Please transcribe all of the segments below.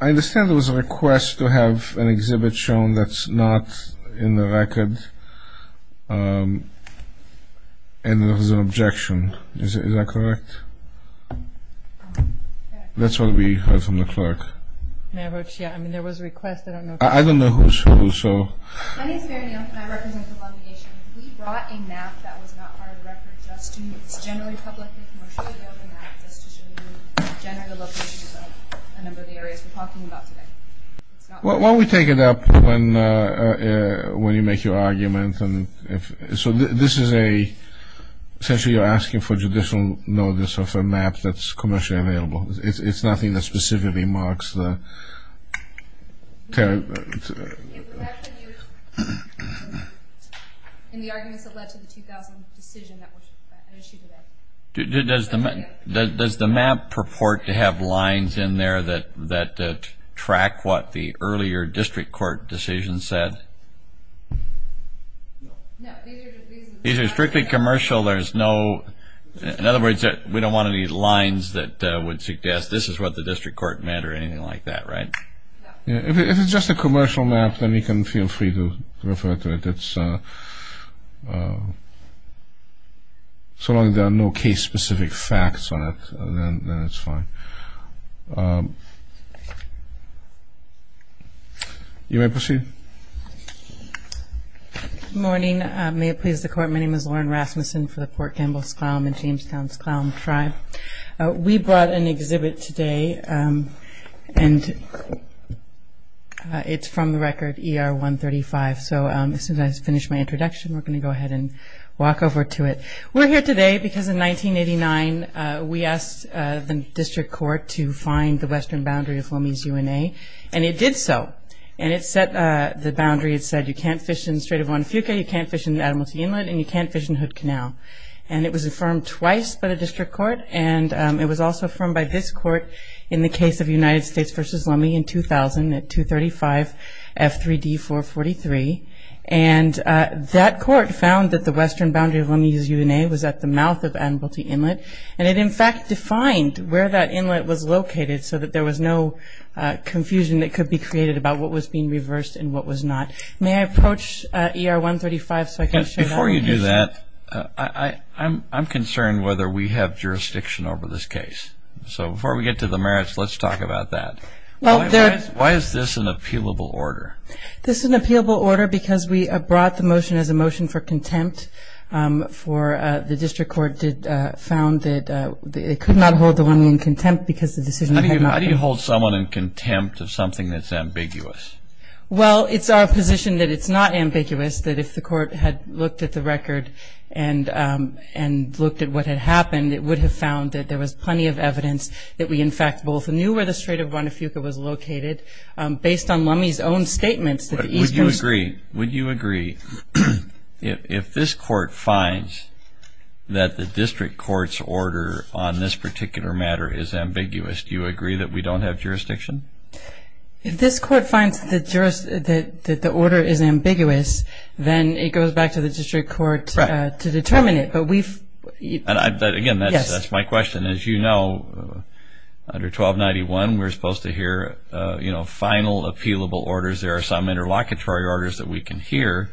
I understand there was a request to have an exhibit shown that's not in the record and there was an objection, is that correct? That's what we heard from a number of the areas we're talking about today. Why don't we take it up when you make your argument. So this is a, essentially you're asking for judicial notice of a map that's commercially available. It's nothing that specifically marks the. In the arguments that led to the 2000 decision that was issued today. Does the map purport to have lines in there that track what the earlier district court decision said? These are strictly commercial, there's no. In other words, we don't want any lines that would suggest this is what the district court meant or anything like that, right? If it's just a commercial map then you can feel free to refer to it. So long as there are no case specific facts on it then it's fine. You may proceed. Good morning, may it please the court, my name is Lauren Rasmussen for the Port Gamble-S'Klallam and Jamestown-S'Klallam Tribe. We brought an exhibit today and it's from the record ER 135. So as soon as I finish my introduction we're going to go ahead and walk over to it. We're here today because in 1989 we asked the district court to find the western boundary of Lummi's UNA and it did so. And it set the boundary, it said you can't fish in Strait of Juan Fuca, you can't fish in Adamalty Inlet and you can't fish in Hood Canal. And it was affirmed twice by the district court and it was also affirmed by this court in the case of United States v. Lummi in 2000 at 235F3D443 and that court found that the western boundary of Lummi's UNA was at the mouth of Adamalty Inlet and it in fact defined where that inlet was located so that there was no confusion that could be created about what was being reversed and what was not. May I approach ER 135 so I can show that? Before you do that, I'm concerned whether we have jurisdiction over this case. So before we get to the merits let's talk about that. Why is this an appealable order? Because we brought the motion as a motion for contempt for the district court did found that it could not hold the Lummi in contempt because the decision had not been made. How do you hold someone in contempt of something that's ambiguous? Well it's our position that it's not ambiguous, that if the court had looked at the record and looked at what had happened it would have found that there was plenty of evidence that we in fact both knew where the Strait of Juan Fuca was located based on Lummi's own statements that Would you agree, would you agree, if this court finds that the district court's order on this particular matter is ambiguous, do you agree that we don't have jurisdiction? If this court finds that the order is ambiguous, then it goes back to the district court to determine it, but we've Again, that's my question. As you know, under 1291 we're supposed to appealable orders. There are some interlocutory orders that we can hear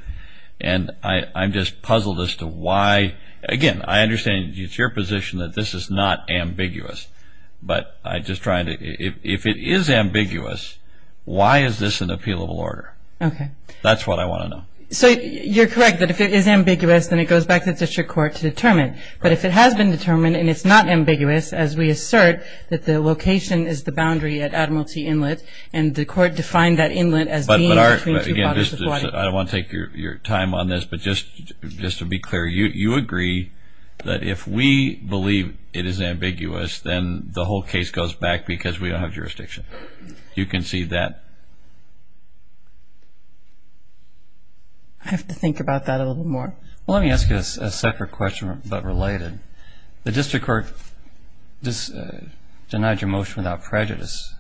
and I'm just puzzled as to why. Again, I understand it's your position that this is not ambiguous, but I'm just trying to, if it is ambiguous, why is this an appealable order? That's what I want to know. So you're correct that if it is ambiguous then it goes back to the district court to determine, but if it has been determined and it's not ambiguous as we assert that the location is the boundary at Admiralty Inlet, and the court defined that inlet as being between two waters of Hawaii. I don't want to take your time on this, but just to be clear, you agree that if we believe it is ambiguous, then the whole case goes back because we don't have jurisdiction. You concede that? I have to think about that a little more. Well, let me ask you a separate question, but related. The district court denied your motion without prejudice.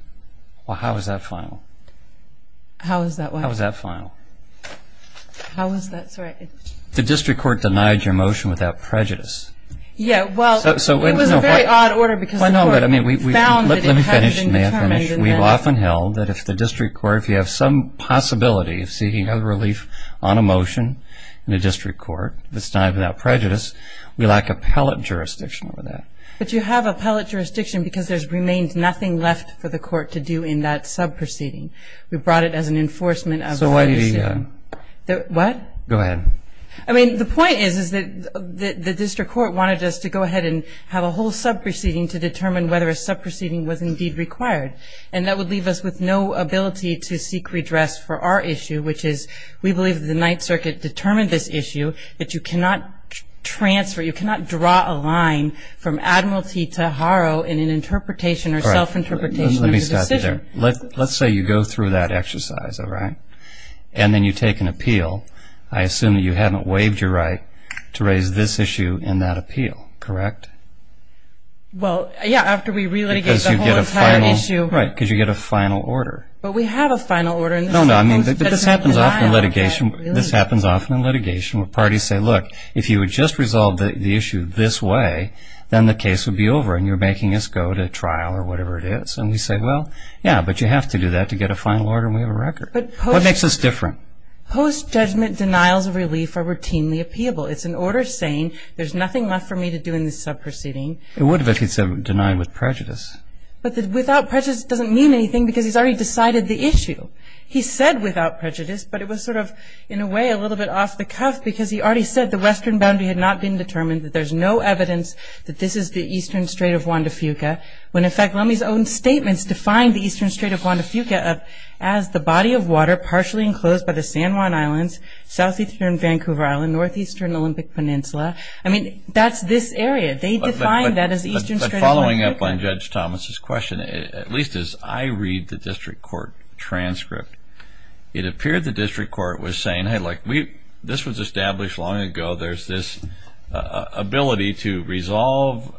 Well, how is that final? How is that what? How is that final? How is that, sorry? The district court denied your motion without prejudice. Yeah, well, it was a very odd order because the court found it and hadn't determined it. Let me finish, may I finish? We've often held that if the district court, if you have some possibility of seeking a relief on a motion in a district court that's denied without prejudice, we lack appellate jurisdiction over that. But you have appellate jurisdiction because there's remained nothing left for the court to do in that sub-proceeding. We brought it as an enforcement of the... So what do you say? What? Go ahead. I mean, the point is that the district court wanted us to go ahead and have a whole sub-proceeding to determine whether a sub-proceeding was indeed required, and that would leave us with no ability to seek redress for our issue, which is we believe that the Ninth Circuit determined this issue that you cannot transfer, you cannot draw a line from admiralty to harrow in an interpretation or self-interpretation of the decision. Let me stop you there. Let's say you go through that exercise, all right? And then you take an appeal. I assume that you haven't waived your right to raise this issue in that appeal, correct? Well, yeah, after we re-litigate the whole entire issue. Because you get a final, right, because you get a final order. But we have a final order No, no, I mean, this happens often in litigation. This happens often in litigation where parties say, look, if you would just resolve the issue this way, then the case would be over and you're making us go to trial or whatever it is. And we say, well, yeah, but you have to do that to get a final order and we have a record. What makes this different? Post-judgment denials of relief are routinely appealable. It's an order saying there's nothing left for me to do in this sub-proceeding. It would if it's denied with prejudice. But without prejudice doesn't mean anything because he's already decided the issue. He said without prejudice, but it was sort of, in a way, a little bit off the cuff because he already said the western boundary had not been determined, that there's no evidence that this is the eastern strait of Juan de Fuca, when in fact Lummi's own statements defined the eastern strait of Juan de Fuca as the body of water partially enclosed by the San Juan Islands, southeastern Vancouver Island, northeastern Olympic Peninsula. I mean, that's this area. They defined that as the eastern strait of Juan de Fuca. But following up on Judge Thomas's question, at least as I read the district court transcript, it appeared the district court was saying, hey, look, this was established long ago. There's this ability to resolve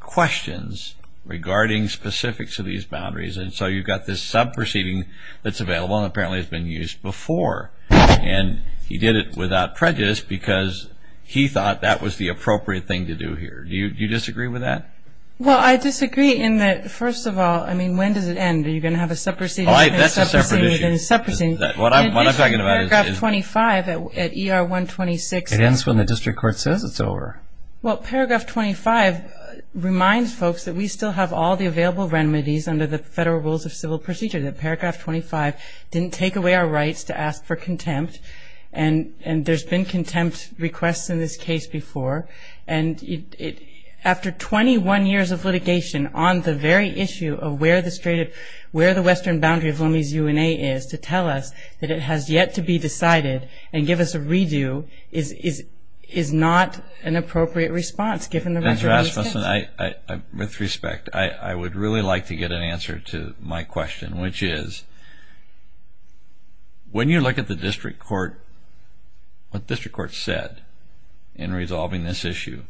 questions regarding specifics of these boundaries and so you've got this sub-proceeding that's available and apparently has been used before. And he did it without prejudice because he thought that was the appropriate thing to do here. Do you disagree with that? Well, I disagree in that, first of all, I mean, when does it end? Are you going to have a sub-proceeding? Oh, that's a separate issue. And a sub-proceeding, then a sub-proceeding. What I'm talking about is... In paragraph 25 at ER-126... It ends when the district court says it's over. Well, paragraph 25 reminds folks that we still have all the available remedies under the federal rules of civil procedure, that paragraph 25 didn't take away our rights to ask for remedies. And after 21 years of litigation on the very issue of where the western boundary of Lummi's UNA is to tell us that it has yet to be decided and give us a redo is not an appropriate response, given the resolution. Ms. Rasmussen, with respect, I would really like to get an answer to my question, which is, when you look at the district court, what district court said in resolving this issue,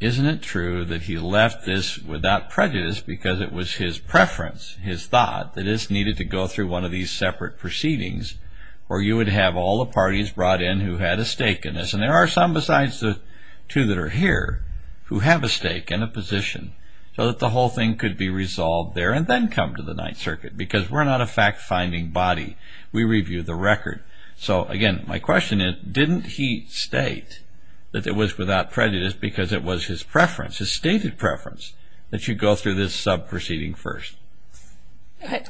isn't it true that he left this without prejudice because it was his preference, his thought, that this needed to go through one of these separate proceedings where you would have all the parties brought in who had a stake in this? And there are some, besides the two that are here, who have a stake and a position, so that the whole thing could be resolved there and then come to the Ninth Circuit, because we're not a fact-finding body. We review the record. So again, my question is, didn't he state that it was without prejudice because it was his preference, his stated preference, that you go through this sub-proceeding first?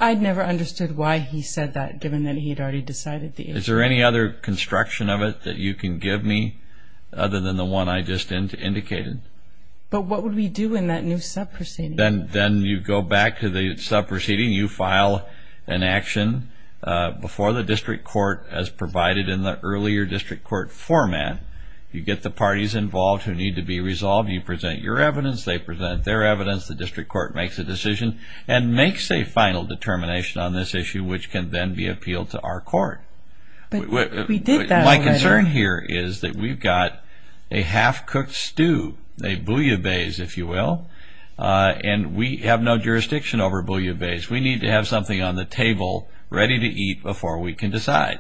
I never understood why he said that, given that he had already decided the issue. Is there any other construction of it that you can give me, other than the one I just indicated? But what would we do in that new sub-proceeding? Then you go back to the sub-proceeding. You file an action before the district court as provided in the earlier district court format. You get the parties involved who need to be resolved. You present your evidence. They present their evidence. The district court makes a decision and makes a final determination on this issue, which can then be appealed to our court. But we did that already. My concern here is that we've got a half-cooked stew, a bouillabaisse, if you will, and we have no jurisdiction over bouillabaisse. We need to have something on the table ready to eat before we can decide.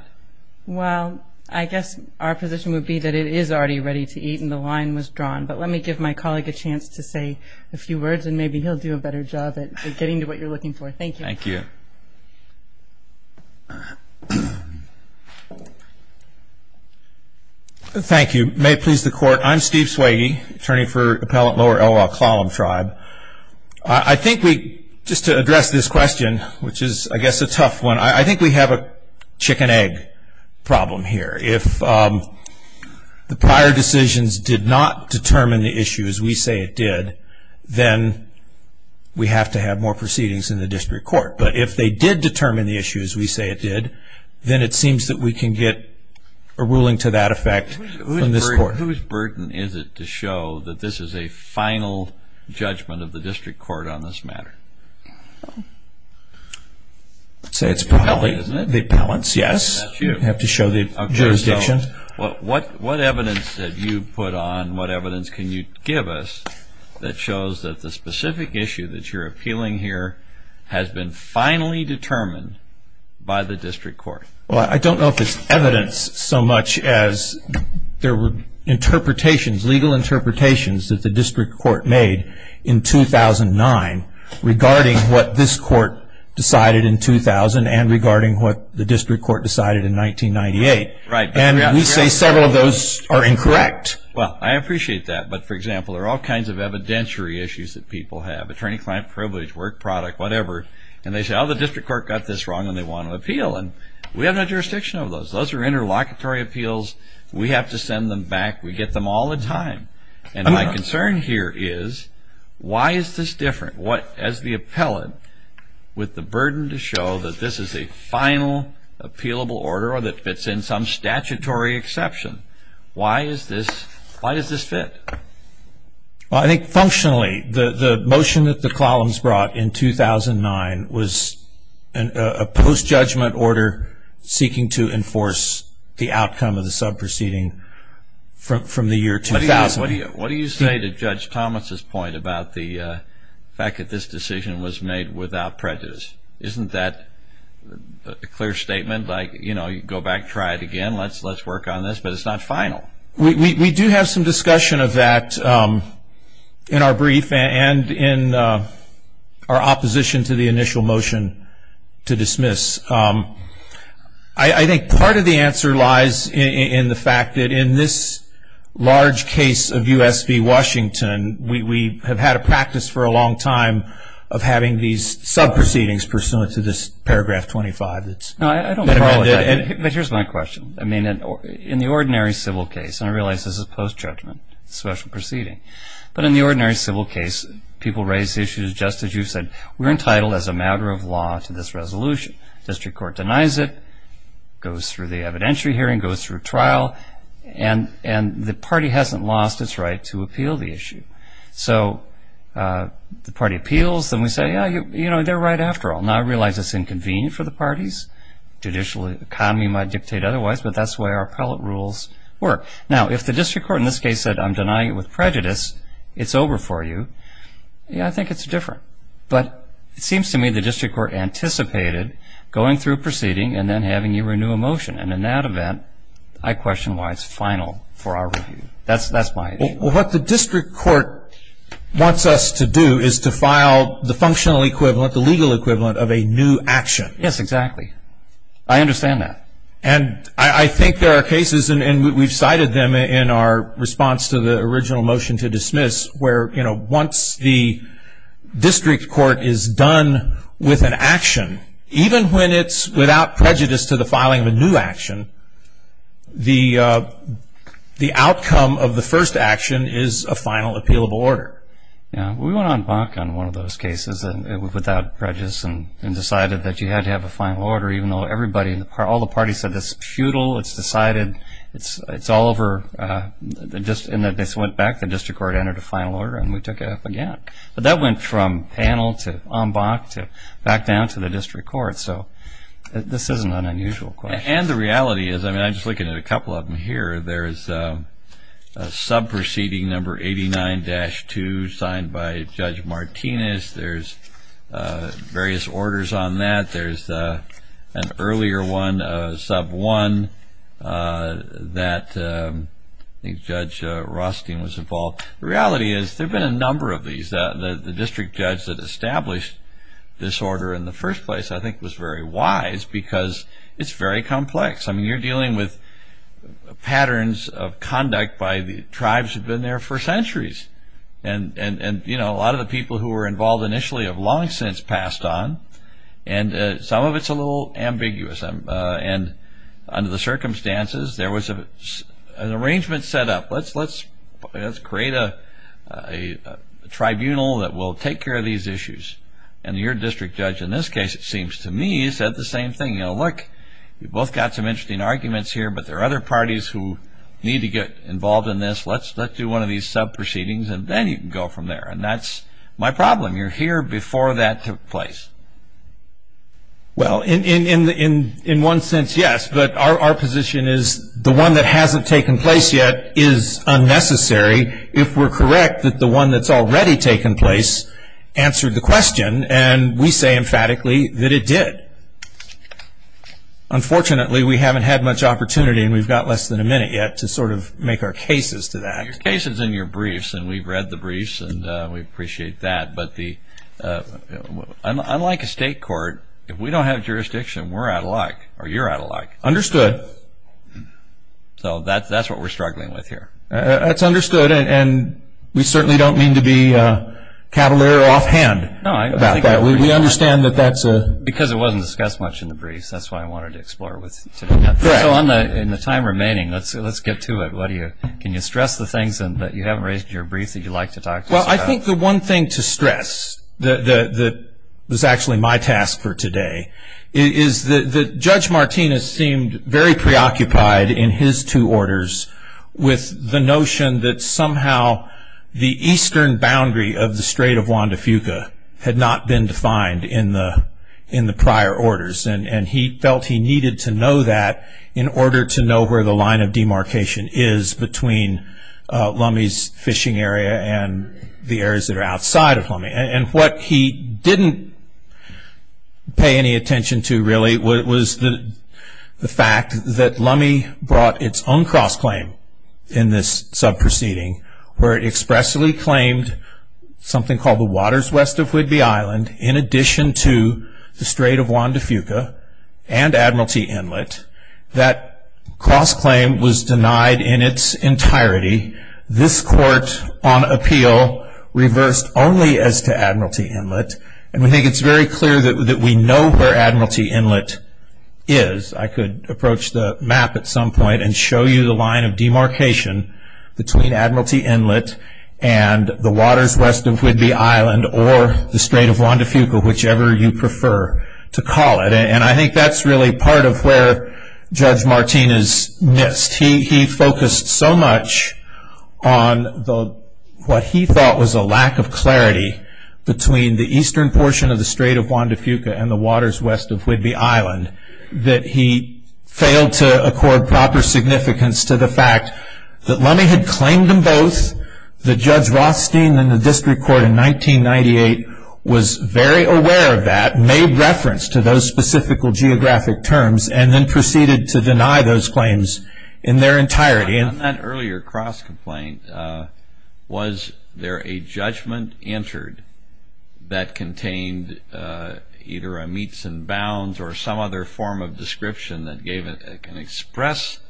Well, I guess our position would be that it is already ready to eat and the line was drawn. But let me give my colleague a chance to say a few words, and maybe he'll do a better job at getting to what you're looking for. Thank you. Thank you. Thank you. May it please the court, I'm Steve Swagey, attorney for Appellant Lower Elwha-Klallam Tribe. I think we, just to address this question, which is, I guess, a tough one, I think we have a chicken-egg problem here. If the prior decisions did not determine the issue as we say it did, then we have to have more proceedings in the district court. But if they did determine the issue as we say it did, then it seems that we can get a ruling to that effect from this court. Whose burden is it to show that this is a final judgment of the district court on this matter? I'd say it's probably the appellant's, yes. You have to show the jurisdiction. What evidence that you've put on, what evidence can you give us that shows that the specific issue that you're appealing here has been finally determined by the district court? Well, I don't know if it's evidence so much as there were interpretations, legal interpretations, that the district court made in 2009 regarding what this court decided in 2000 and regarding what the district court decided in 1998. And we say several of those are incorrect. Well, I appreciate that. But, for example, there are all kinds of evidentiary issues that people have, attorney-client privilege, work product, whatever. And they say, oh, the district court got this wrong and they want to appeal. And we have no jurisdiction of those. Those are interlocutory appeals. We have to send them back. We get them all the time. And my concern here is why is this different? What, as the appellant, with the burden to show that this is a final appealable order or that fits in some statutory exception, why is this, why does this fit? Well, I think functionally the motion that the Clallams brought in 2009 was a post-judgment order seeking to enforce the outcome of the sub-proceeding from the year 2000. What do you say to Judge Thomas' point about the fact that this decision was made without prejudice? Isn't that a clear statement? Like, you know, go back, try it again, let's work on this, but it's not final. We do have some discussion of that in our brief and in our opposition to the initial motion to dismiss. I think part of the answer lies in the fact that in this large case of U.S. v. Washington, we have had a practice for a long time of having these sub-proceedings pursuant to this paragraph 25 that's been amended. But here's my question. I mean, in the ordinary civil case, and I realize this is post-judgment, special proceeding, but in the ordinary civil case, people raise issues just as you said. We're entitled as a matter of law to this resolution. District Court denies it, goes through the evidentiary hearing, goes through trial, and the party hasn't lost its right to appeal the issue. So the party appeals and we say, yeah, you know, they're right otherwise, but that's the way our appellate rules work. Now, if the District Court in this case said, I'm denying it with prejudice, it's over for you, yeah, I think it's different. But it seems to me the District Court anticipated going through a proceeding and then having you renew a motion. And in that event, I question why it's final for our review. That's my issue. Well, what the District Court wants us to do is to file the functional equivalent, the legal equivalent of a new action. Yes, exactly. I understand that. And I think there are cases, and we've cited them in our response to the original motion to dismiss, where, you know, once the District Court is done with an action, even when it's without prejudice to the filing of a new action, the outcome of the first action is a final appealable order. Yeah, we went on BOC on one of those cases and it was without prejudice and decided that you had to have a final order, even though everybody, all the parties said it's futile, it's decided, it's all over. And this went back, the District Court entered a final order and we took it up again. But that went from panel to on BOC to back down to the District Court. So this isn't an unusual question. And the reality is, I mean, I'm just looking at a couple of them here, there's a sub-proceeding number 89-2 signed by Judge Martinez. There's various orders on that. There's an earlier one, sub-1, that I think Judge Rothstein was involved. The reality is, there have been a number of these. The district judge that established this order in the first place, I think, was very wise because it's very complex. I mean, you're dealing with patterns of conduct by the tribes that have been there for centuries. And, you know, a lot of the people who were involved initially have long since passed on. And some of it's a little ambiguous. And under the circumstances, there was an arrangement set up. Let's create a tribunal that will take care of these issues. And your district judge in this case, it seems to me, said the same thing. You know, look, you've both got some interesting arguments here, but there are other parties who need to get involved in this. Let's do one of these sub-proceedings and then you can go from there. And that's my problem. You're here before that took place. Well in one sense, yes. But our position is the one that hasn't taken place yet is unnecessary if we're correct that the one that's already taken place answered the question. And we say emphatically that it did. Unfortunately, we haven't had much opportunity and we've got less than a minute yet to sort of make our cases to that. Your case is in your briefs and we've read the briefs and we appreciate that. But unlike a state court, if we don't have jurisdiction, we're out of luck or you're out of luck. Understood. So that's what we're struggling with here. That's understood and we certainly don't mean to be cavalier offhand about that. We understand that that's a... Because it wasn't discussed much in the briefs, that's why I wanted to explore it with you. So in the time remaining, let's get to it. Can you stress the things that you haven't raised in your briefs that you'd like to talk to us about? Well, I think the one thing to stress that was actually my task for today is that Judge Lummey had the notion that somehow the eastern boundary of the Strait of Juan de Fuca had not been defined in the prior orders. And he felt he needed to know that in order to know where the line of demarcation is between Lummey's fishing area and the areas that are outside of Lummey. And what he didn't pay any attention to really was the fact that in this sub-proceeding, where it expressly claimed something called the waters west of Whidbey Island in addition to the Strait of Juan de Fuca and Admiralty Inlet, that cross claim was denied in its entirety. This court on appeal reversed only as to Admiralty Inlet. And we think it's very clear that we know where Admiralty Inlet is. I could approach the map at some point and show you the line of demarcation between Admiralty Inlet and the waters west of Whidbey Island or the Strait of Juan de Fuca, whichever you prefer to call it. And I think that's really part of where Judge Martinez missed. He focused so much on what he thought was a lack of clarity between the eastern portion of the Strait of Juan de Fuca and the waters west of Whidbey Island that he failed to accord proper significance to the fact that Lummey had claimed them both. The Judge Rothstein in the district court in 1998 was very aware of that, made reference to those specific geographic terms, and then proceeded to deny those claims in their entirety. On that earlier cross complaint, was there a judgment entered that contained a claim either a meets and bounds or some other form of description that gave an express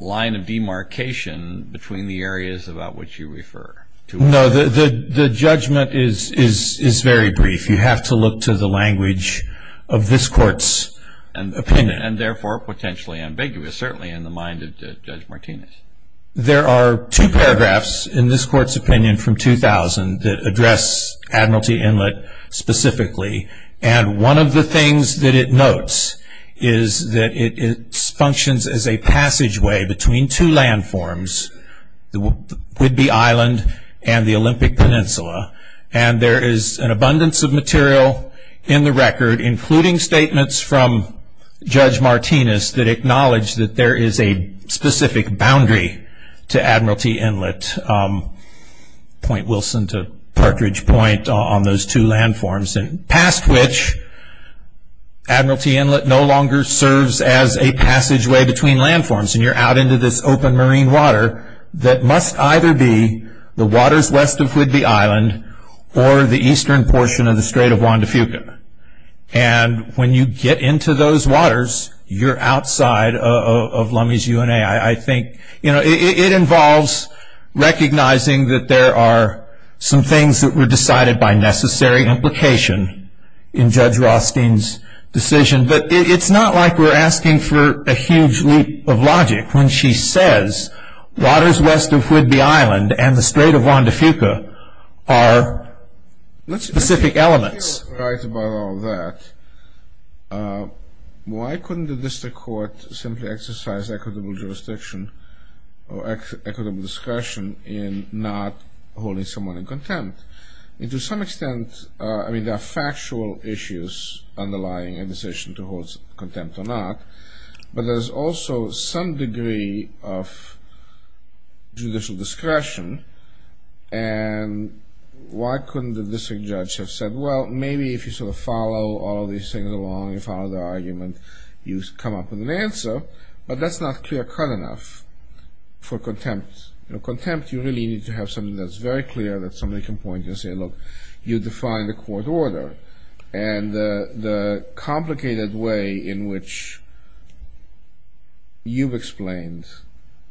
line of demarcation between the areas about which you refer? No, the judgment is very brief. You have to look to the language of this court's opinion. And therefore potentially ambiguous, certainly in the mind of Judge Martinez. There are two paragraphs in this court's opinion from 2000 that address Admiralty Inlet specifically. One of the things that it notes is that it functions as a passageway between two landforms, Whidbey Island and the Olympic Peninsula. There is an abundance of material in the record, including statements from Judge Martinez that acknowledge that there is a specific boundary to Admiralty Inlet. Point Wilson to Partridge Point on those two landforms. Past which, Admiralty Inlet no longer serves as a passageway between landforms. You're out into this open marine water that must either be the waters west of Whidbey Island or the eastern portion of the Strait of Juan de Fuca. When you get into those waters, you're outside of Lummi's UNA. It involves recognizing that there are some things that were decided by necessary implication in Judge Rothstein's decision. But it's not like we're asking for a huge loop of logic when she says waters west of Whidbey Island and the Strait of Juan de Fuca are specific elements. That's right about all that. Why couldn't the district court simply exercise equitable jurisdiction or equitable discretion in not holding someone in contempt? And to some extent, I mean, there are factual issues underlying a decision to hold contempt or not, but there's also some degree of judicial discretion. And why couldn't the district judge have said, well, maybe if you sort of follow all these things along, you follow the argument, you come up with an answer, but that's not clear cut enough for contempt. You know, contempt, you really need to have something that's very clear that somebody can point and say, look, you define the court order. And the complicated way in which you've explained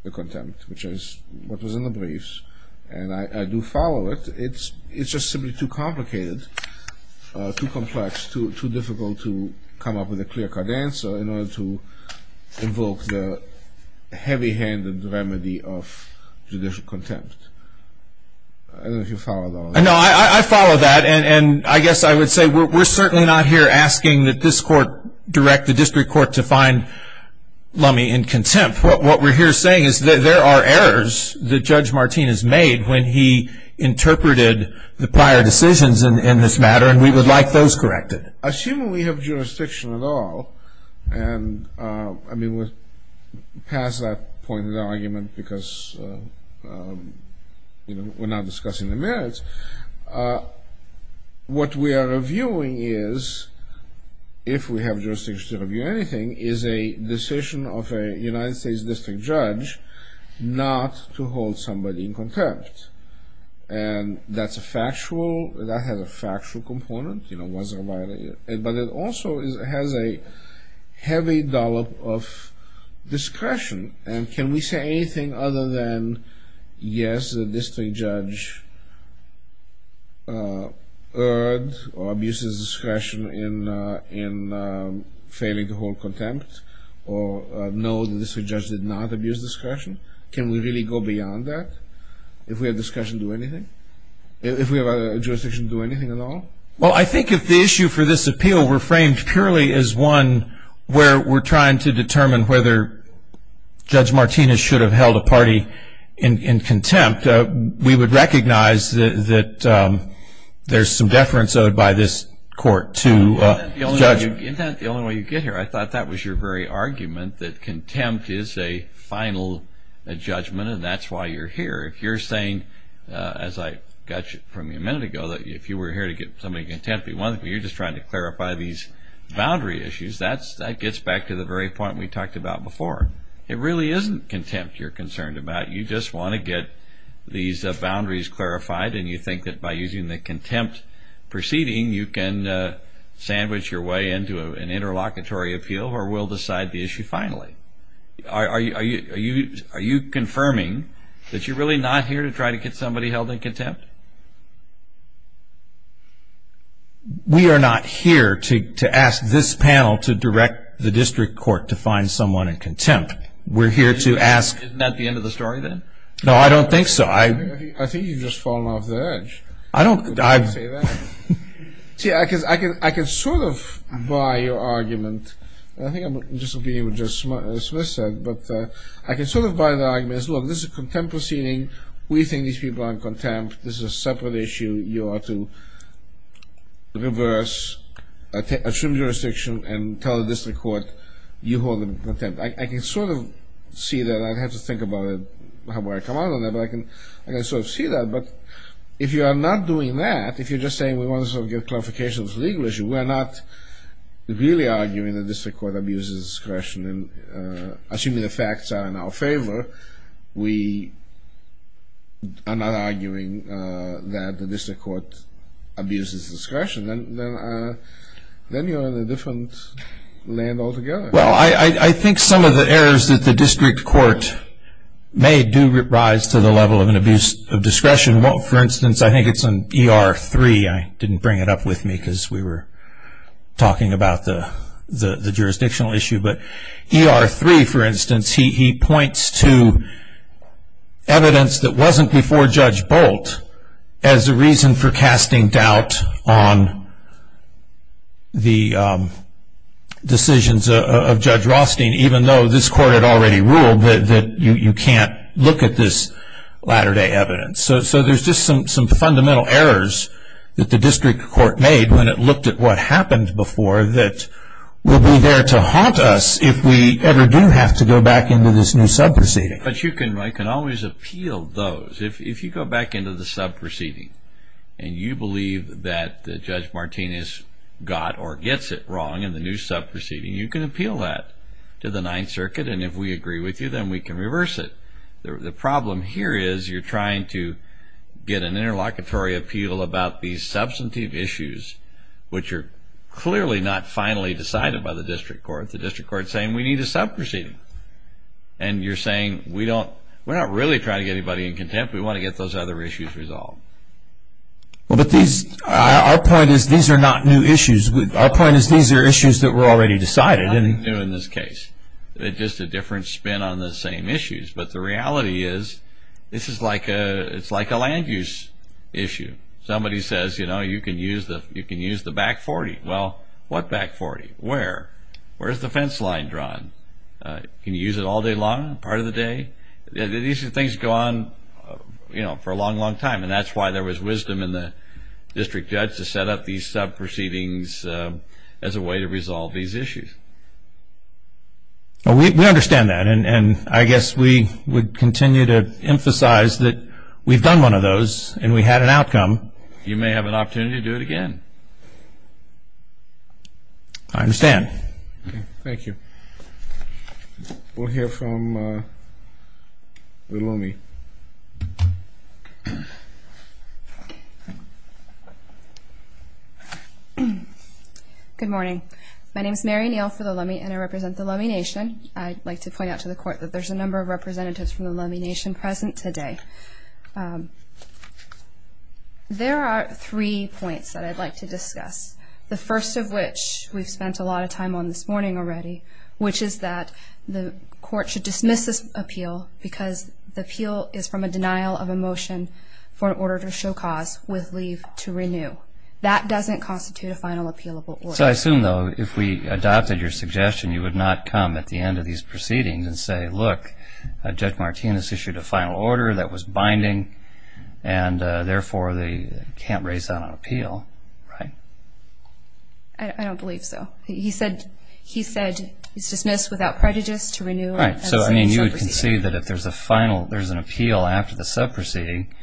the contempt, which is what was in the briefs, and I do follow it, it's just simply too complicated, too complex, too difficult to come up with a clear cut answer in order to invoke the heavy handed remedy of judicial contempt. I don't know if you followed all that. No, I follow that. And I guess I would say we're certainly not here asking that this court direct the district court to find Lumme in contempt. What we're here saying is that there are errors that Judge Martinez made when he interpreted the prior decisions in this matter, and we would like those corrected. Assuming we have jurisdiction at all, and I mean, we're past that point of the argument because we're not discussing the merits. What we are reviewing is, if we have jurisdiction to review anything, is a decision of a United States district judge not to hold somebody in contempt. And that's a factual, that has a factual component, you know, but it also has a heavy dollop of discretion. And can we say anything other than, yes, the district judge erred or abuses discretion in favor of the district judge? Well, I think if the issue for this appeal were framed purely as one where we're trying to determine whether Judge Martinez should have held a party in contempt, we would recognize that there's some deference owed by this court to the judge. Isn't that the only way you get here? I thought that was your very argument, that contempt is a final judgment, and that's why you're here. If you're saying, as I got from you a minute ago, that if you were here to get somebody in contempt, one, you're just trying to clarify these boundary issues. That gets back to the very point we talked about before. It really isn't contempt you're concerned about. You just want to get these boundaries clarified, and you think that by using the contempt proceeding, you can sandwich your way into an interlocutory appeal, or we'll decide the issue finally. Are you confirming that you're really not here to try to get somebody held in contempt? We are not here to ask this panel to direct the district court to find someone in contempt. We're here to ask... Isn't that the end of the story then? No, I don't think so. I think you've just fallen off the edge. I don't... See, I can sort of buy your argument. I think I'm disagreeing with what Smith said, but I can sort of buy the argument as, look, this is a contempt proceeding. We think these people are in contempt. This is a separate issue. You are to reverse, assume jurisdiction, and tell the district court you hold them in contempt. I can sort of see that. I'd have to think about where I come out on that, but I can sort of see that. If you are not doing that, if you're just saying we want to sort of get clarification of the legal issue, we're not really arguing the district court abuses discretion. Assuming the facts are in our favor, we are not arguing that the district court abuses discretion. Then you're in a different land altogether. Well, I think some of the errors that the district court made do rise to the level of an abuse of discretion. For instance, I think it's in ER 3. I didn't bring it up with me because we were talking about the jurisdictional issue. But ER 3, for instance, he points to evidence that wasn't before Judge Bolt as a reason for casting doubt on the decisions of Judge Rothstein, even though this court had already ruled that you can't look at this latter-day evidence. So there's just some fundamental errors that the district court made when it looked at what happened before that will be there to haunt us if we ever do have to go back into this new sub-proceeding. But you can always appeal those. If you go back into the sub-proceeding and you believe that Judge Martinez got or gets it wrong in the new sub-proceeding, you can appeal that to the Ninth Circuit. And if we agree with you, then we can reverse it. The problem here is you're trying to get an interlocutory appeal about these substantive issues which are clearly not finally decided by the district court. The district court is saying, we need a sub-proceeding. And you're saying, we're not really trying to get anybody in contempt. We want to get those other issues resolved. Well, but these, our point is these are not new issues. Our point is these are issues that were already decided. Not new in this case. It's just a different spin on the same issues. But the reality is this is like a land use issue. Somebody says, you know, you can use the back 40. Well, what back 40? Where? Where is the fence line drawn? Can you use it all day long? Part of the day? These things go on, you know, for a long, long time. And that's why there was wisdom in the district judge to set up these sub-proceedings as a way to resolve these issues. We understand that. And I guess we would continue to emphasize that we've done one of those and we had an outcome. You may have an opportunity to do it again. I understand. Thank you. We'll hear from the Lummi. Good morning. My name is Mary Neal for the Lummi and I represent the Lummi Nation. I'd like to point out to the court that there's a number of representatives from the Lummi Nation present today. There are three points that I'd like to discuss. The first of which we've spent a lot of time on this morning already, which is that the court should dismiss this appeal because the appeal is from a denial of a motion for an order to show cause with leave to renew. That doesn't constitute a final appealable order. So I assume though, if we adopted your suggestion, you would not come at the end of these proceedings and say, look, Judge Martinez issued a final order that was binding and therefore they can't raise that on appeal, right? I don't believe so. He said it's dismissed without prejudice to renew. Right. So I mean you would concede that if there's a final, there's an appeal after the sub-proceeding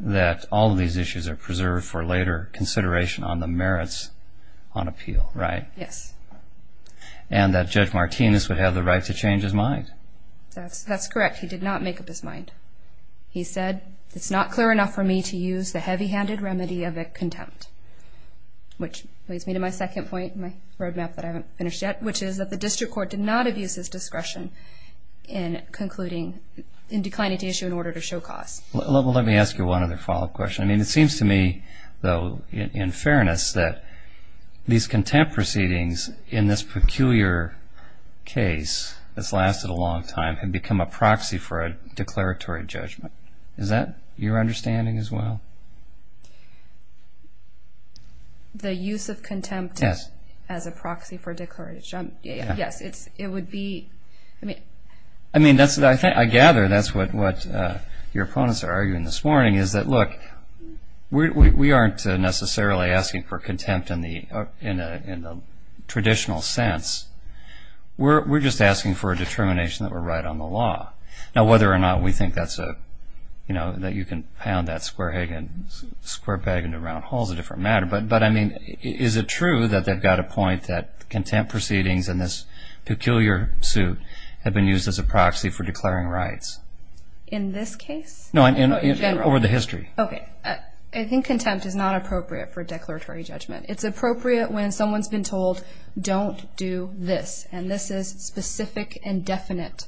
that all of these issues are preserved for later consideration on the merits on appeal, right? Yes. And that Judge Martinez would have the right to change his mind. That's correct. He did not make up his mind. He said, it's not clear enough for me to use the heavy-handed remedy of a contempt, which leads me to my second point, my roadmap that I haven't finished yet, which is that the district court did not abuse his discretion in concluding, in declining to issue an order to show cause. Let me ask you one other follow-up question. I mean, it seems to me though, in fairness, that these contempt proceedings in this peculiar case that's lasted a long time have become a proxy for a declaratory judgment. Is that your understanding as well? The use of contempt as a proxy for a declaratory judgment? Yes. It would be, I mean... I mean, I gather that's what your opponents are arguing this morning is that, look, we aren't necessarily asking for contempt in the traditional sense. We're just asking for a determination that we're right on the law. Now, whether or not we think that's a, you can pound that square peg into round holes is a different matter. But, I mean, is it true that they've got a point that contempt proceedings in this peculiar suit have been used as a proxy for declaring rights? In this case? No, over the history. Okay. I think contempt is not appropriate for a declaratory judgment. It's appropriate when someone's been told, don't do this, and this is specific and definite.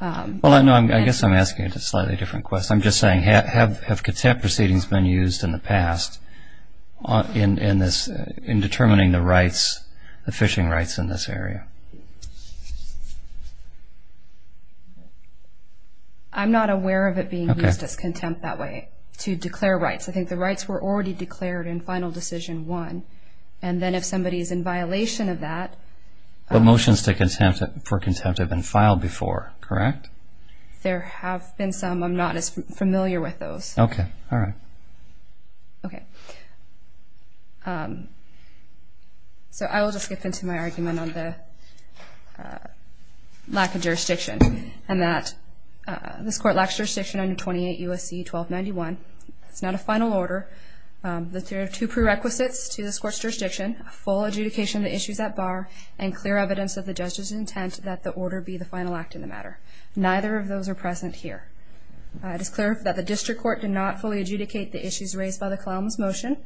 Well, I know, I guess I'm asking a slightly different question. I'm just saying, have contempt proceedings been used in the past in determining the rights, the fishing rights in this area? I'm not aware of it being used as contempt that way, to declare rights. I think the rights were already declared in Final Decision 1, and then if somebody's in violation of that... But motions for contempt have been filed before, correct? There have been some. I'm not as familiar with those. Okay. All right. Okay. So, I will just skip into my argument on the lack of jurisdiction, and that this Court lacks jurisdiction under 28 U.S.C. 1291. It's not a final order. There are two prerequisites to this Court's jurisdiction, full adjudication of the issues at bar, and order B, the final act in the matter. Neither of those are present here. It is clear that the District Court did not fully adjudicate the issues raised by the Kalama's motion,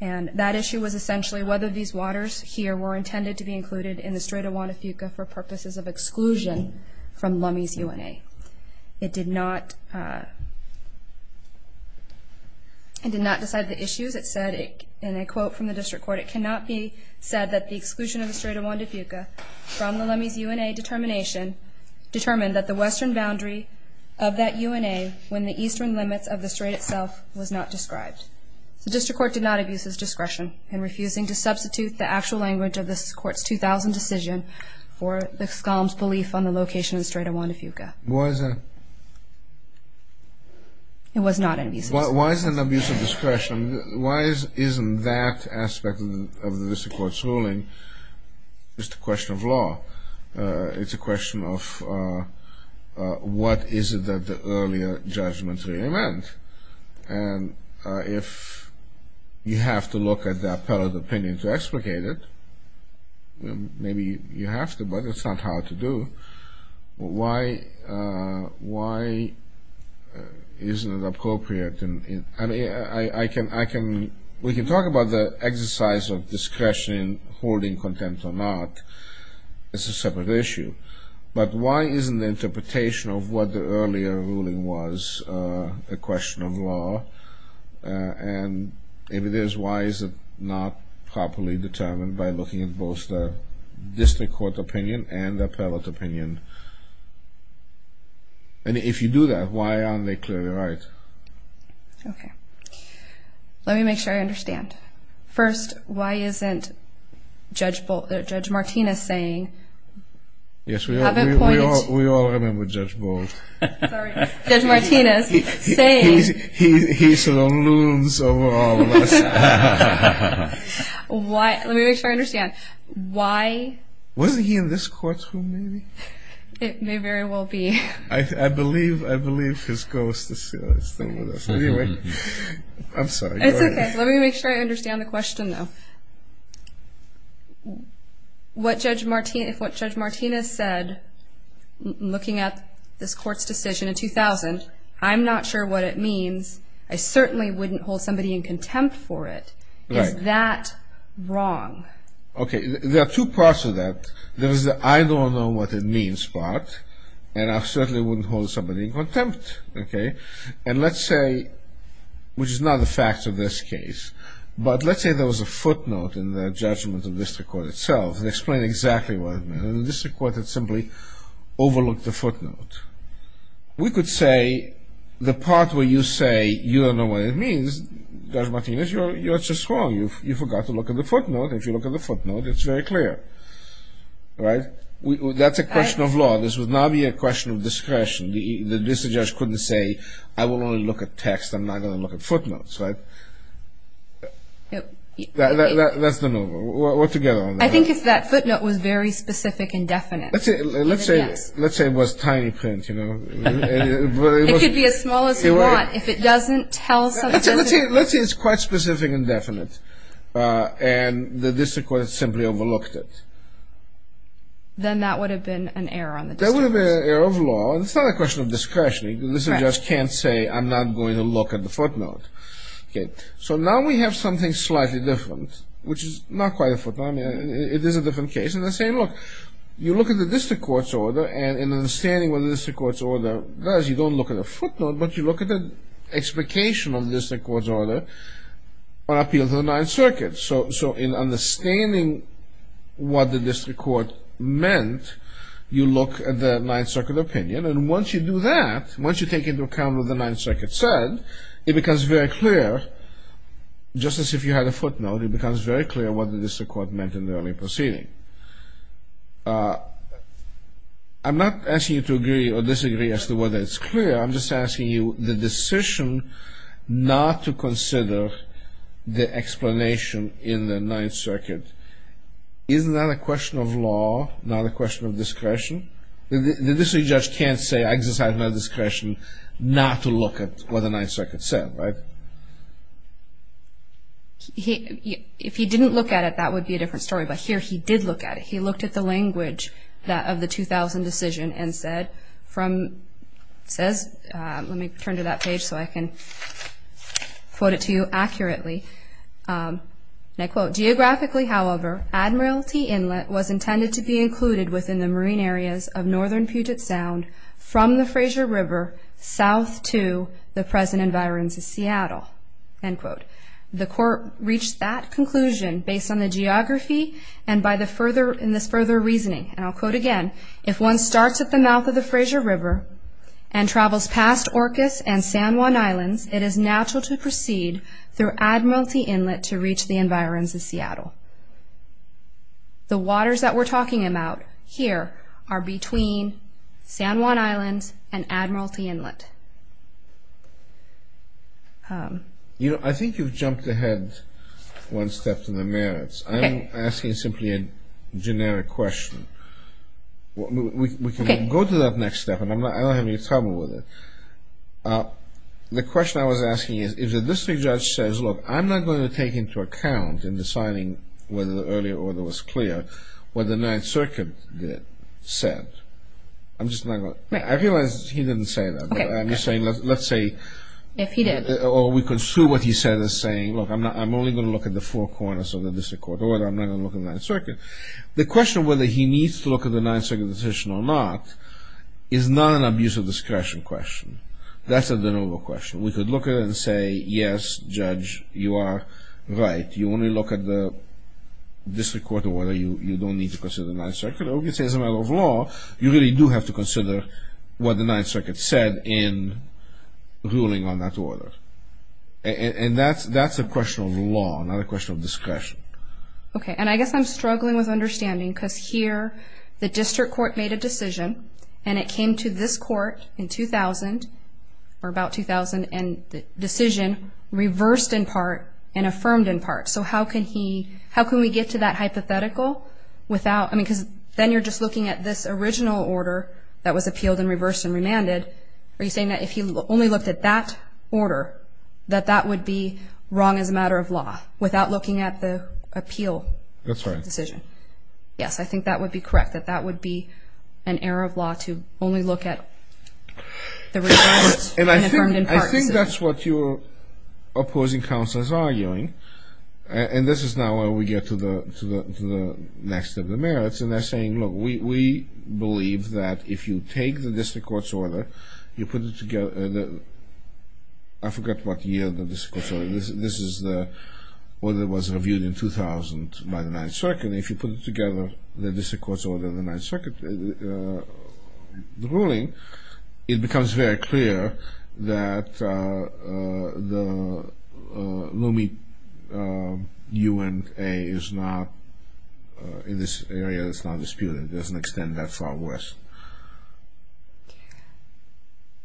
and that issue was essentially whether these waters here were intended to be included in the Strait of Juan de Fuca for purposes of exclusion from Lummi's UNA. It did not decide the issues. It said, in a quote from the District Court, it cannot be said that the exclusion of the Strait of Juan de Fuca from the Lummi's UNA determination determined that the western boundary of that UNA when the eastern limits of the Strait itself was not described. The District Court did not abuse its discretion in refusing to substitute the actual language of this Court's 2000 decision for the Kalama's belief on the location of the Strait of Juan de Fuca. Why is that? It was not an abuse of discretion. Why is it an abuse of discretion? Why isn't that aspect of the District Court's ruling just a question of law? It's a question of what is it that the earlier judgments really meant? And if you have to look at the appellate opinion to explicate it, maybe you have to, but it's not hard to do. Why isn't it appropriate? I mean, we can talk about the exercise of discretion in holding contempt or not. It's a separate issue. But why isn't the interpretation of what the earlier ruling was a question of law? And if it is, why is it not properly determined by looking at both the District Court opinion and the appellate opinion? And if you do that, why aren't they clearly right? Okay. Let me make sure I understand. First, why isn't Judge Martinez saying... Yes, we all remember Judge Bolt. Sorry. Judge Martinez saying... He saloons over all of us. Let me make sure I understand. Why... Wasn't he in this courtroom maybe? It may very well be. I believe his ghost is still with us. Anyway, I'm sorry. It's okay. Let me make sure I understand the question though. What Judge Martinez said, looking at this Court's decision in 2000, I'm not sure what it means. I certainly wouldn't hold somebody in contempt for it. Is that wrong? Okay. There are two parts to that. There was the I don't know what it means part, and I certainly wouldn't hold somebody in contempt. Okay. And let's say, which is not a fact of this case, but let's say there was a footnote in the judgment of the District Court itself that explained exactly what it meant. And the District Court had simply overlooked the footnote. We could say the part where you say you don't know what it means, Judge Martinez, you're just wrong. You forgot to look at the footnote. If you look at the footnote, it's very clear. Right? That's a question of law. This would not be a question of discretion. The District Judge couldn't say, I will only look at text. I'm not going to look at footnotes. Right? That's the move. We're together on that. I think if that footnote was very specific and definite. Let's say it was tiny print. It could be as small as you want. If it doesn't tell something. Let's say it's quite specific and definite. And the District Court simply overlooked it. Then that would have been an error on the District Court's part. That would have been an error of law. It's not a question of discretion. The District Judge can't say, I'm not going to look at the footnote. Okay. So now we have something slightly different, which is not quite a footnote. I mean, it is a different case. In the same look, you look at the District Court's order, and in understanding what the District Court's order does, you don't look at a footnote, but you look at the explication of the District Court's order on appeal to the Ninth Circuit. So in understanding what the District Court meant, you look at the Ninth Circuit opinion. And once you do that, once you take into account what the Ninth Circuit said, it becomes very clear, just as if you had a footnote, it becomes very clear what the District Court meant in the early proceeding. I'm not asking you to test it, whether it's clear. I'm just asking you the decision not to consider the explanation in the Ninth Circuit. Isn't that a question of law, not a question of discretion? The District Judge can't say, I just have no discretion not to look at what the Ninth Circuit said. If he didn't look at it, that would be a different story. But here he did look at it. He looked at the language of the 2000 decision and said, let me turn to that page so I can quote it to you accurately. And I quote, geographically, however, Admiralty Inlet was intended to be included within the marine areas of northern Puget Sound from the Fraser River south to the present environment of Seattle. End quote. The Court reached that conclusion based on the geography and by this further reasoning. And I'll quote again. If one starts at the mouth of the Fraser River and travels past Orcas and San Juan Islands, it is natural to proceed through Admiralty Inlet to reach the environs of Seattle. The waters that we're talking about here are between San Juan Islands and Admiralty Inlet. You know, I think you've jumped ahead one step to the merits. I'm asking simply a generic question. We can go to that next step, and I don't have any trouble with it. The question I was asking is, if the District Judge says, look, I'm not going to take into account in deciding whether the earlier order was clear what the Ninth Circuit said. I'm just not saying, let's say, or we could sue what he said as saying, look, I'm only going to look at the four corners of the District Court, or I'm not going to look at the Ninth Circuit. The question whether he needs to look at the Ninth Circuit decision or not is not an abuse of discretion question. That's a de novo question. We could look at it and say, yes, Judge, you are right. You only look at the District Court order. You don't need to consider the Ninth Circuit. Or we could say, as a matter of law, you really do have to consider what the Ninth Circuit has done in ruling on that order. And that's a question of law, not a question of discretion. Okay. And I guess I'm struggling with understanding, because here the District Court made a decision, and it came to this Court in 2000, or about 2000, and the decision reversed in part and affirmed in part. So how can he, how can we get to that hypothetical without, I mean, because then you're just looking at this original order that was appealed and reversed and remanded. Are you saying that if he only looked at that order, that that would be wrong as a matter of law, without looking at the appeal decision? That's right. Yes, I think that would be correct, that that would be an error of law to only look at the reversed and affirmed in part. And I think that's what your opposing counsel is arguing. And this is now where we get to the next of the merits. And they're saying, look, we believe that if you take the District Court's order, you put it together, I forget what year the District Court's order, this is the order that was reviewed in 2000 by the 9th Circuit, and if you put it together, the District Court's order of the 9th Circuit, the ruling, it becomes very clear that the Loomis U.N.A. is not, in this area, it's not disputed. It doesn't extend that far west.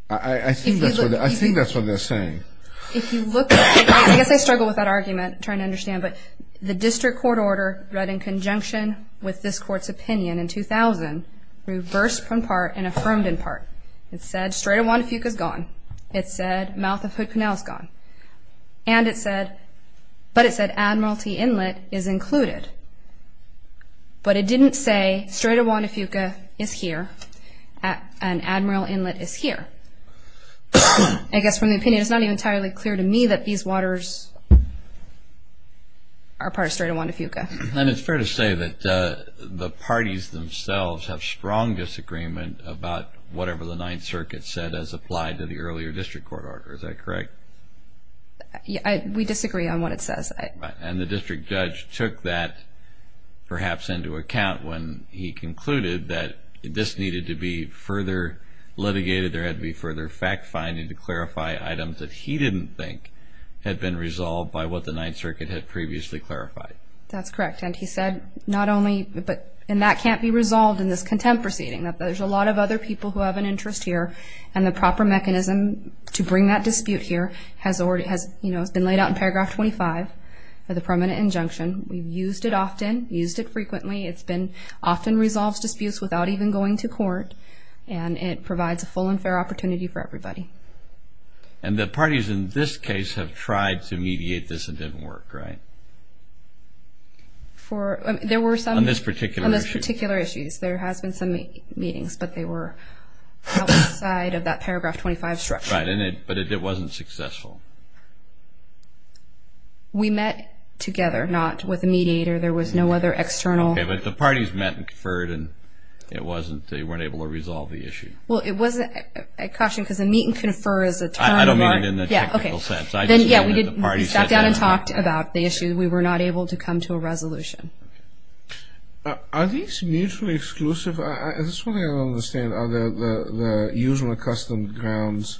I think that's what they're saying. If you look at, I guess I struggle with that argument, trying to understand, but the District Court order read in conjunction with this Court's opinion in 2000, reversed in part and affirmed in part. It said Strait of Juan de Fuca is gone. It said Mouth of Hood Canal is gone. And it said, but it said Admiralty Inlet is included. But it didn't say Strait of Juan de Fuca is here, and Admiralty Inlet is here. I guess from the opinion, it's not even entirely clear to me that these waters are part of Strait of Juan de Fuca. And it's fair to say that the parties themselves have strong disagreement about whatever the 9th Circuit said as applied to the earlier District Court order. Is that correct? We disagree on what it says. And the District Judge took that perhaps into account when he concluded that this needed to be further litigated. There had to be further fact-finding to clarify items that he didn't think had been resolved by what the 9th Circuit had previously clarified. That's correct. And he said, not only, and that can't be resolved in this contempt proceeding. There's a lot of other people who have an interest here, and the proper mechanism to the permanent injunction. We've used it often, used it frequently. It's been, often resolves disputes without even going to court. And it provides a full and fair opportunity for everybody. And the parties in this case have tried to mediate this and it didn't work, right? For, there were some... On this particular issue. On this particular issue. There has been some meetings, but they were outside of that paragraph 25 structure. Right, but it wasn't successful. We met together, not with a mediator. There was no other external... Okay, but the parties met and conferred and it wasn't, they weren't able to resolve the issue. Well, it wasn't, I caution, because a meet and confer is a term... I don't mean it in a technical sense. Yeah, okay. Then, yeah, we did step down and talked about the issue. We were not able to come to a resolution. Are these mutually exclusive? I just want to understand, are the usual and custom grounds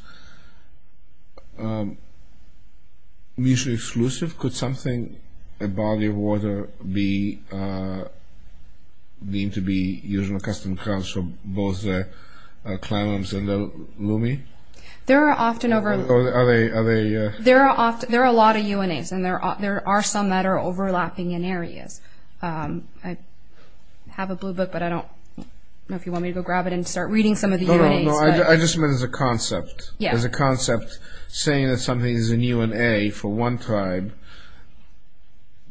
mutually exclusive? Could something, a body of water, be deemed to be usually a custom grounds for both the Clalams and the Lume? There are often over... Are they... There are a lot of UNAs and there are some that are overlapping in areas. I have a blue book, but I don't know if you want me to go grab it and start reading some of the UNAs. No, I just meant as a concept. Yeah. As a concept, saying that something is a UNA for one tribe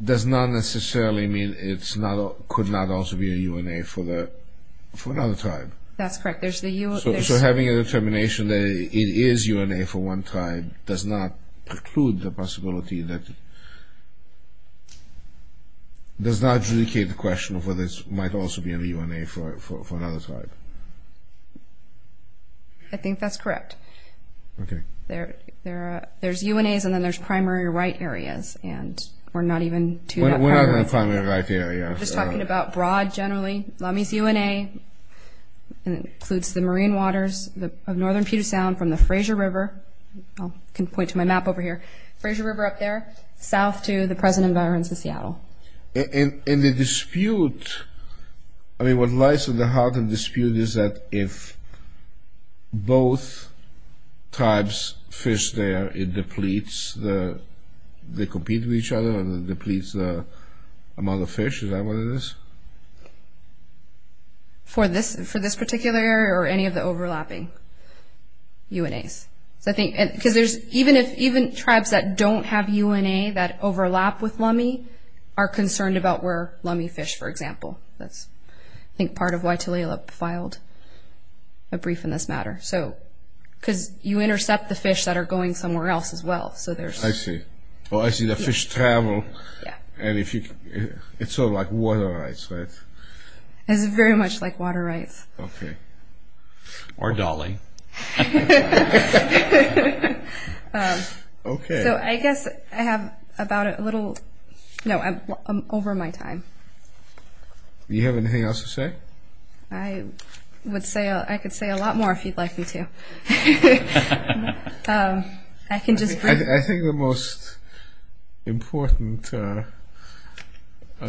does not necessarily mean it could not also be a UNA for another tribe. That's correct. So having a determination that it is UNA for one tribe does not preclude the possibility that... does not adjudicate the question of whether it might also be a UNA for another tribe. I think that's correct. Okay. There's UNAs and then there's primary right areas and we're not even... We're not in a primary right area. We're just talking about broad generally. Lume's UNA includes the marine waters of northern Puget Sound from the Fraser River. I can point to my map over here. Fraser River up there, south to the present environs of Seattle. In the dispute, I mean what lies in the heart of the dispute is that if both tribes fish there, it depletes the... they compete with each other and it depletes the amount of fish. Is that what it is? For this particular area or any of the overlapping UNAs. Even tribes that don't have UNA that overlap with Lume are concerned about where Lume fish for example. I think part of why Tulalip filed a brief in this matter. Because you intercept the fish that are going somewhere else as well. I see. I see the fish travel. It's sort of like water rights, right? It's very much like water rights. Or dolling. So I guess I have about a little... no, I'm over my time. Do you have anything else to say? I would say... I could say a lot more if you'd like me to. I think the most important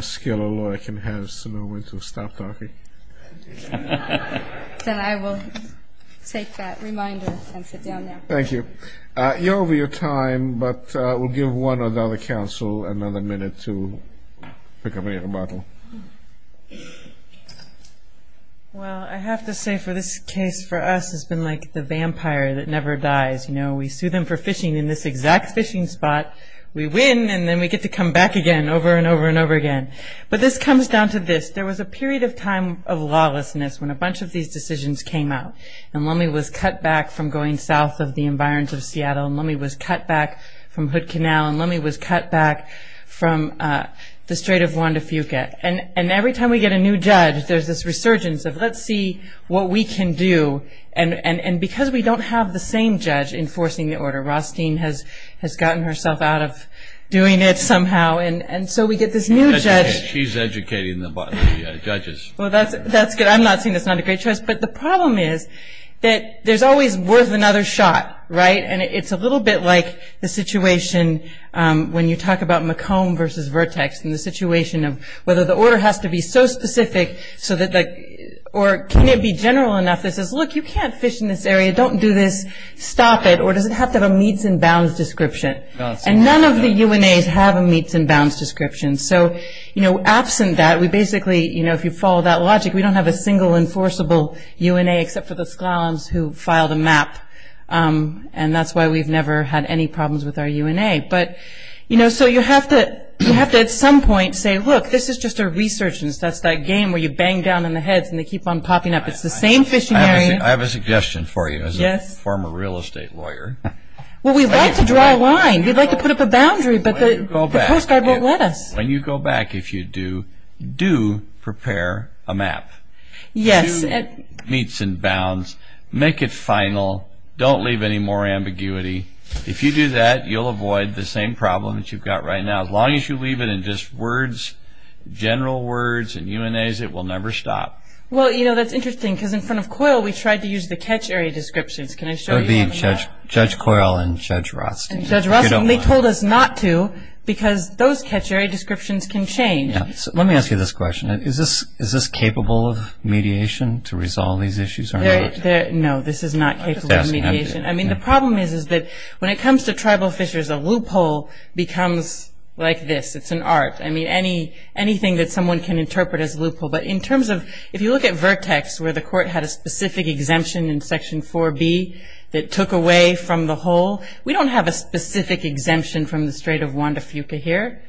skill a lawyer can have is to know when to stop talking. Then I will take that reminder and sit down now. Thank you. You're over your time but we'll give one or the other counsel another minute to pick up any rebuttal. Well, I have to say for this case for us it's been like the vampire that never dies. We sue them for fishing in this exact fishing spot, we win and then we get to come back again over and over and over again. But this comes down to this. There was a period of time of lawlessness when a bunch of these decisions came out. And Lummi was cut back from going south of the environs of Seattle. And Lummi was cut back from Hood Canal. And Lummi was cut back from the Strait of Juan de Fuca. And every time we get a new judge there's this resurgence of let's see what we can do. Or Rothstein has gotten herself out of doing it somehow. And so we get this new judge. She's educating the judges. Well, that's good. I'm not saying it's not a great choice. But the problem is that there's always worth another shot, right? And it's a little bit like the situation when you talk about McComb versus Vertex. And the situation of whether the order has to be so specific or can it be general enough that says, look, you can't fish in this area. Don't do this. Stop it. Or does it have to have a meets and bounds description? And none of the UNAs have a meets and bounds description. So, you know, absent that, we basically, you know, if you follow that logic, we don't have a single enforceable UNA except for the Sklallams who filed a map. And that's why we've never had any problems with our UNA. But, you know, so you have to at some point say, look, this is just a resurgence. That's that game where you bang down on the heads and they keep on popping up. I have a suggestion for you as a former real estate lawyer. Well, we'd like to draw a line. We'd like to put up a boundary, but the Coast Guard won't let us. When you go back, if you do, do prepare a map. Yes. Meets and bounds. Make it final. Don't leave any more ambiguity. If you do that, you'll avoid the same problem that you've got right now. As long as you leave it in just words, general words and UNAs, it will never stop. Well, you know, that's interesting because in front of COIL we tried to use the catch area descriptions. Can I show you? Judge COIL and Judge Rothstein. Judge Rothstein, they told us not to because those catch area descriptions can change. Let me ask you this question. Is this capable of mediation to resolve these issues? No, this is not capable of mediation. I mean, the problem is that when it comes to tribal fishers, a loophole becomes like this. It's an art. I mean, anything that someone can interpret as a loophole. But in terms of, if you look at Vertex where the court had a specific exemption in Section 4B that took away from the whole, we don't have a specific exemption from the Strait of Juan de Fuca here.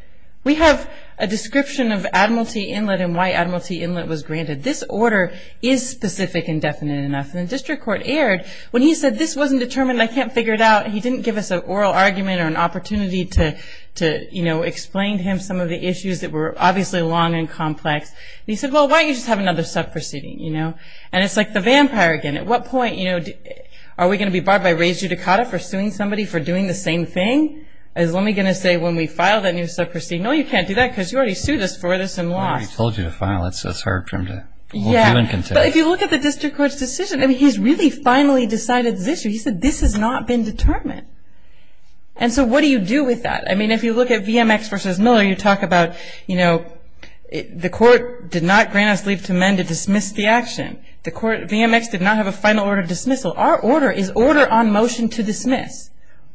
We have a description of Admiralty Inlet and why Admiralty Inlet was granted. This order is specific and definite enough. And the district court erred when he said this wasn't determined. I can't figure it out. He didn't give us an oral argument or an opportunity to, you know, explain to him some of the issues that were obviously long and complex. He said, well, why don't you just have another sub-proceeding, you know? And it's like the vampire again. At what point, you know, are we going to be barred by res judicata for suing somebody for doing the same thing? Is Lummi going to say when we file that new sub-proceeding, no, you can't do that because you already sued us for this and lost. Well, we told you to file it, so it's hard for him to do in contempt. Yeah, but if you look at the district court's decision, I mean, he's really finally decided this issue. He said this has not been determined. And so what do you do with that? I mean, if you look at VMX versus Miller, you talk about, you know, the court did not grant us leave to amend to dismiss the action. The court, VMX, did not have a final order of dismissal. Our order is order on motion to dismiss.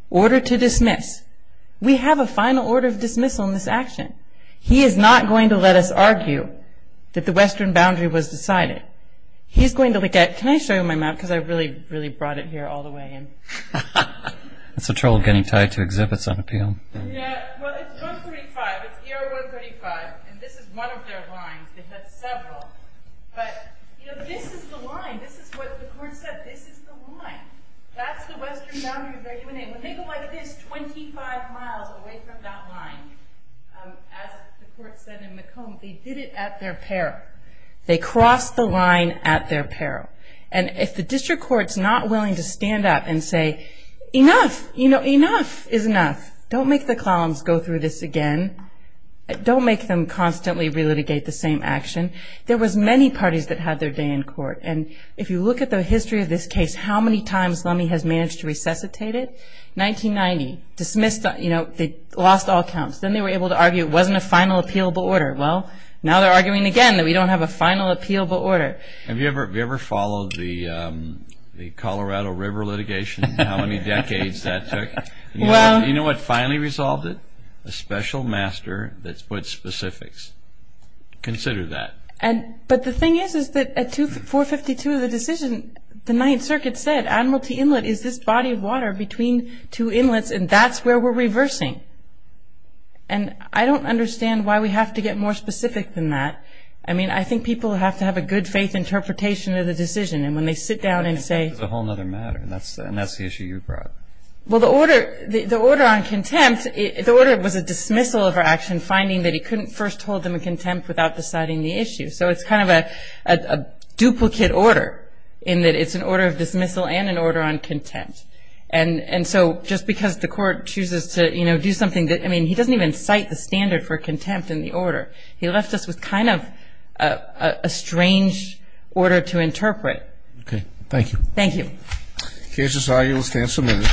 Order to dismiss. We have a final order of dismissal in this action. He is not going to let us argue that the western boundary was decided. He's going to look at, can I show you my map because I really, really brought it here all the way. It's a trouble getting tied to exhibits on appeal. Yeah, well, it's 135. It's ER 135. And this is one of their lines. They had several. But, you know, this is the line. This is what the court said. This is the line. That's the western boundary of their UNA. When they go like this 25 miles away from that line, as the court said in McComb, they did it at their peril. They crossed the line at their peril. And if the district court's not willing to stand up and say, enough, you know, enough is enough. Don't make the Clallams go through this again. Don't make them constantly relitigate the same action. There was many parties that had their day in court. And if you look at the history of this case, how many times Lummi has managed to resuscitate it? 1990, dismissed, you know, they lost all counts. Then they were able to argue it wasn't a final appealable order. Well, now they're arguing again that we don't have a final appealable order. Have you ever followed the Colorado River litigation and how many decades that took? You know what finally resolved it? A special master that's put specifics. Consider that. But the thing is that at 452 of the decision, the Ninth Circuit said Admiralty Inlet is this body of water between two inlets. And that's where we're reversing. And I don't understand why we have to get more specific than that. I mean, I think people have to have a good faith interpretation of the decision. And when they sit down and say... It's a whole other matter. And that's the issue you brought. Well, the order on contempt, the order was a dismissal of our action finding that he couldn't first hold them in contempt without deciding the issue. So it's kind of a duplicate order in that it's an order of dismissal and an order on contempt. And so just because the court chooses to, you know, do something that... He left us with kind of a strange order to interpret. Okay. Thank you. Thank you. Cases, I will stand submitted.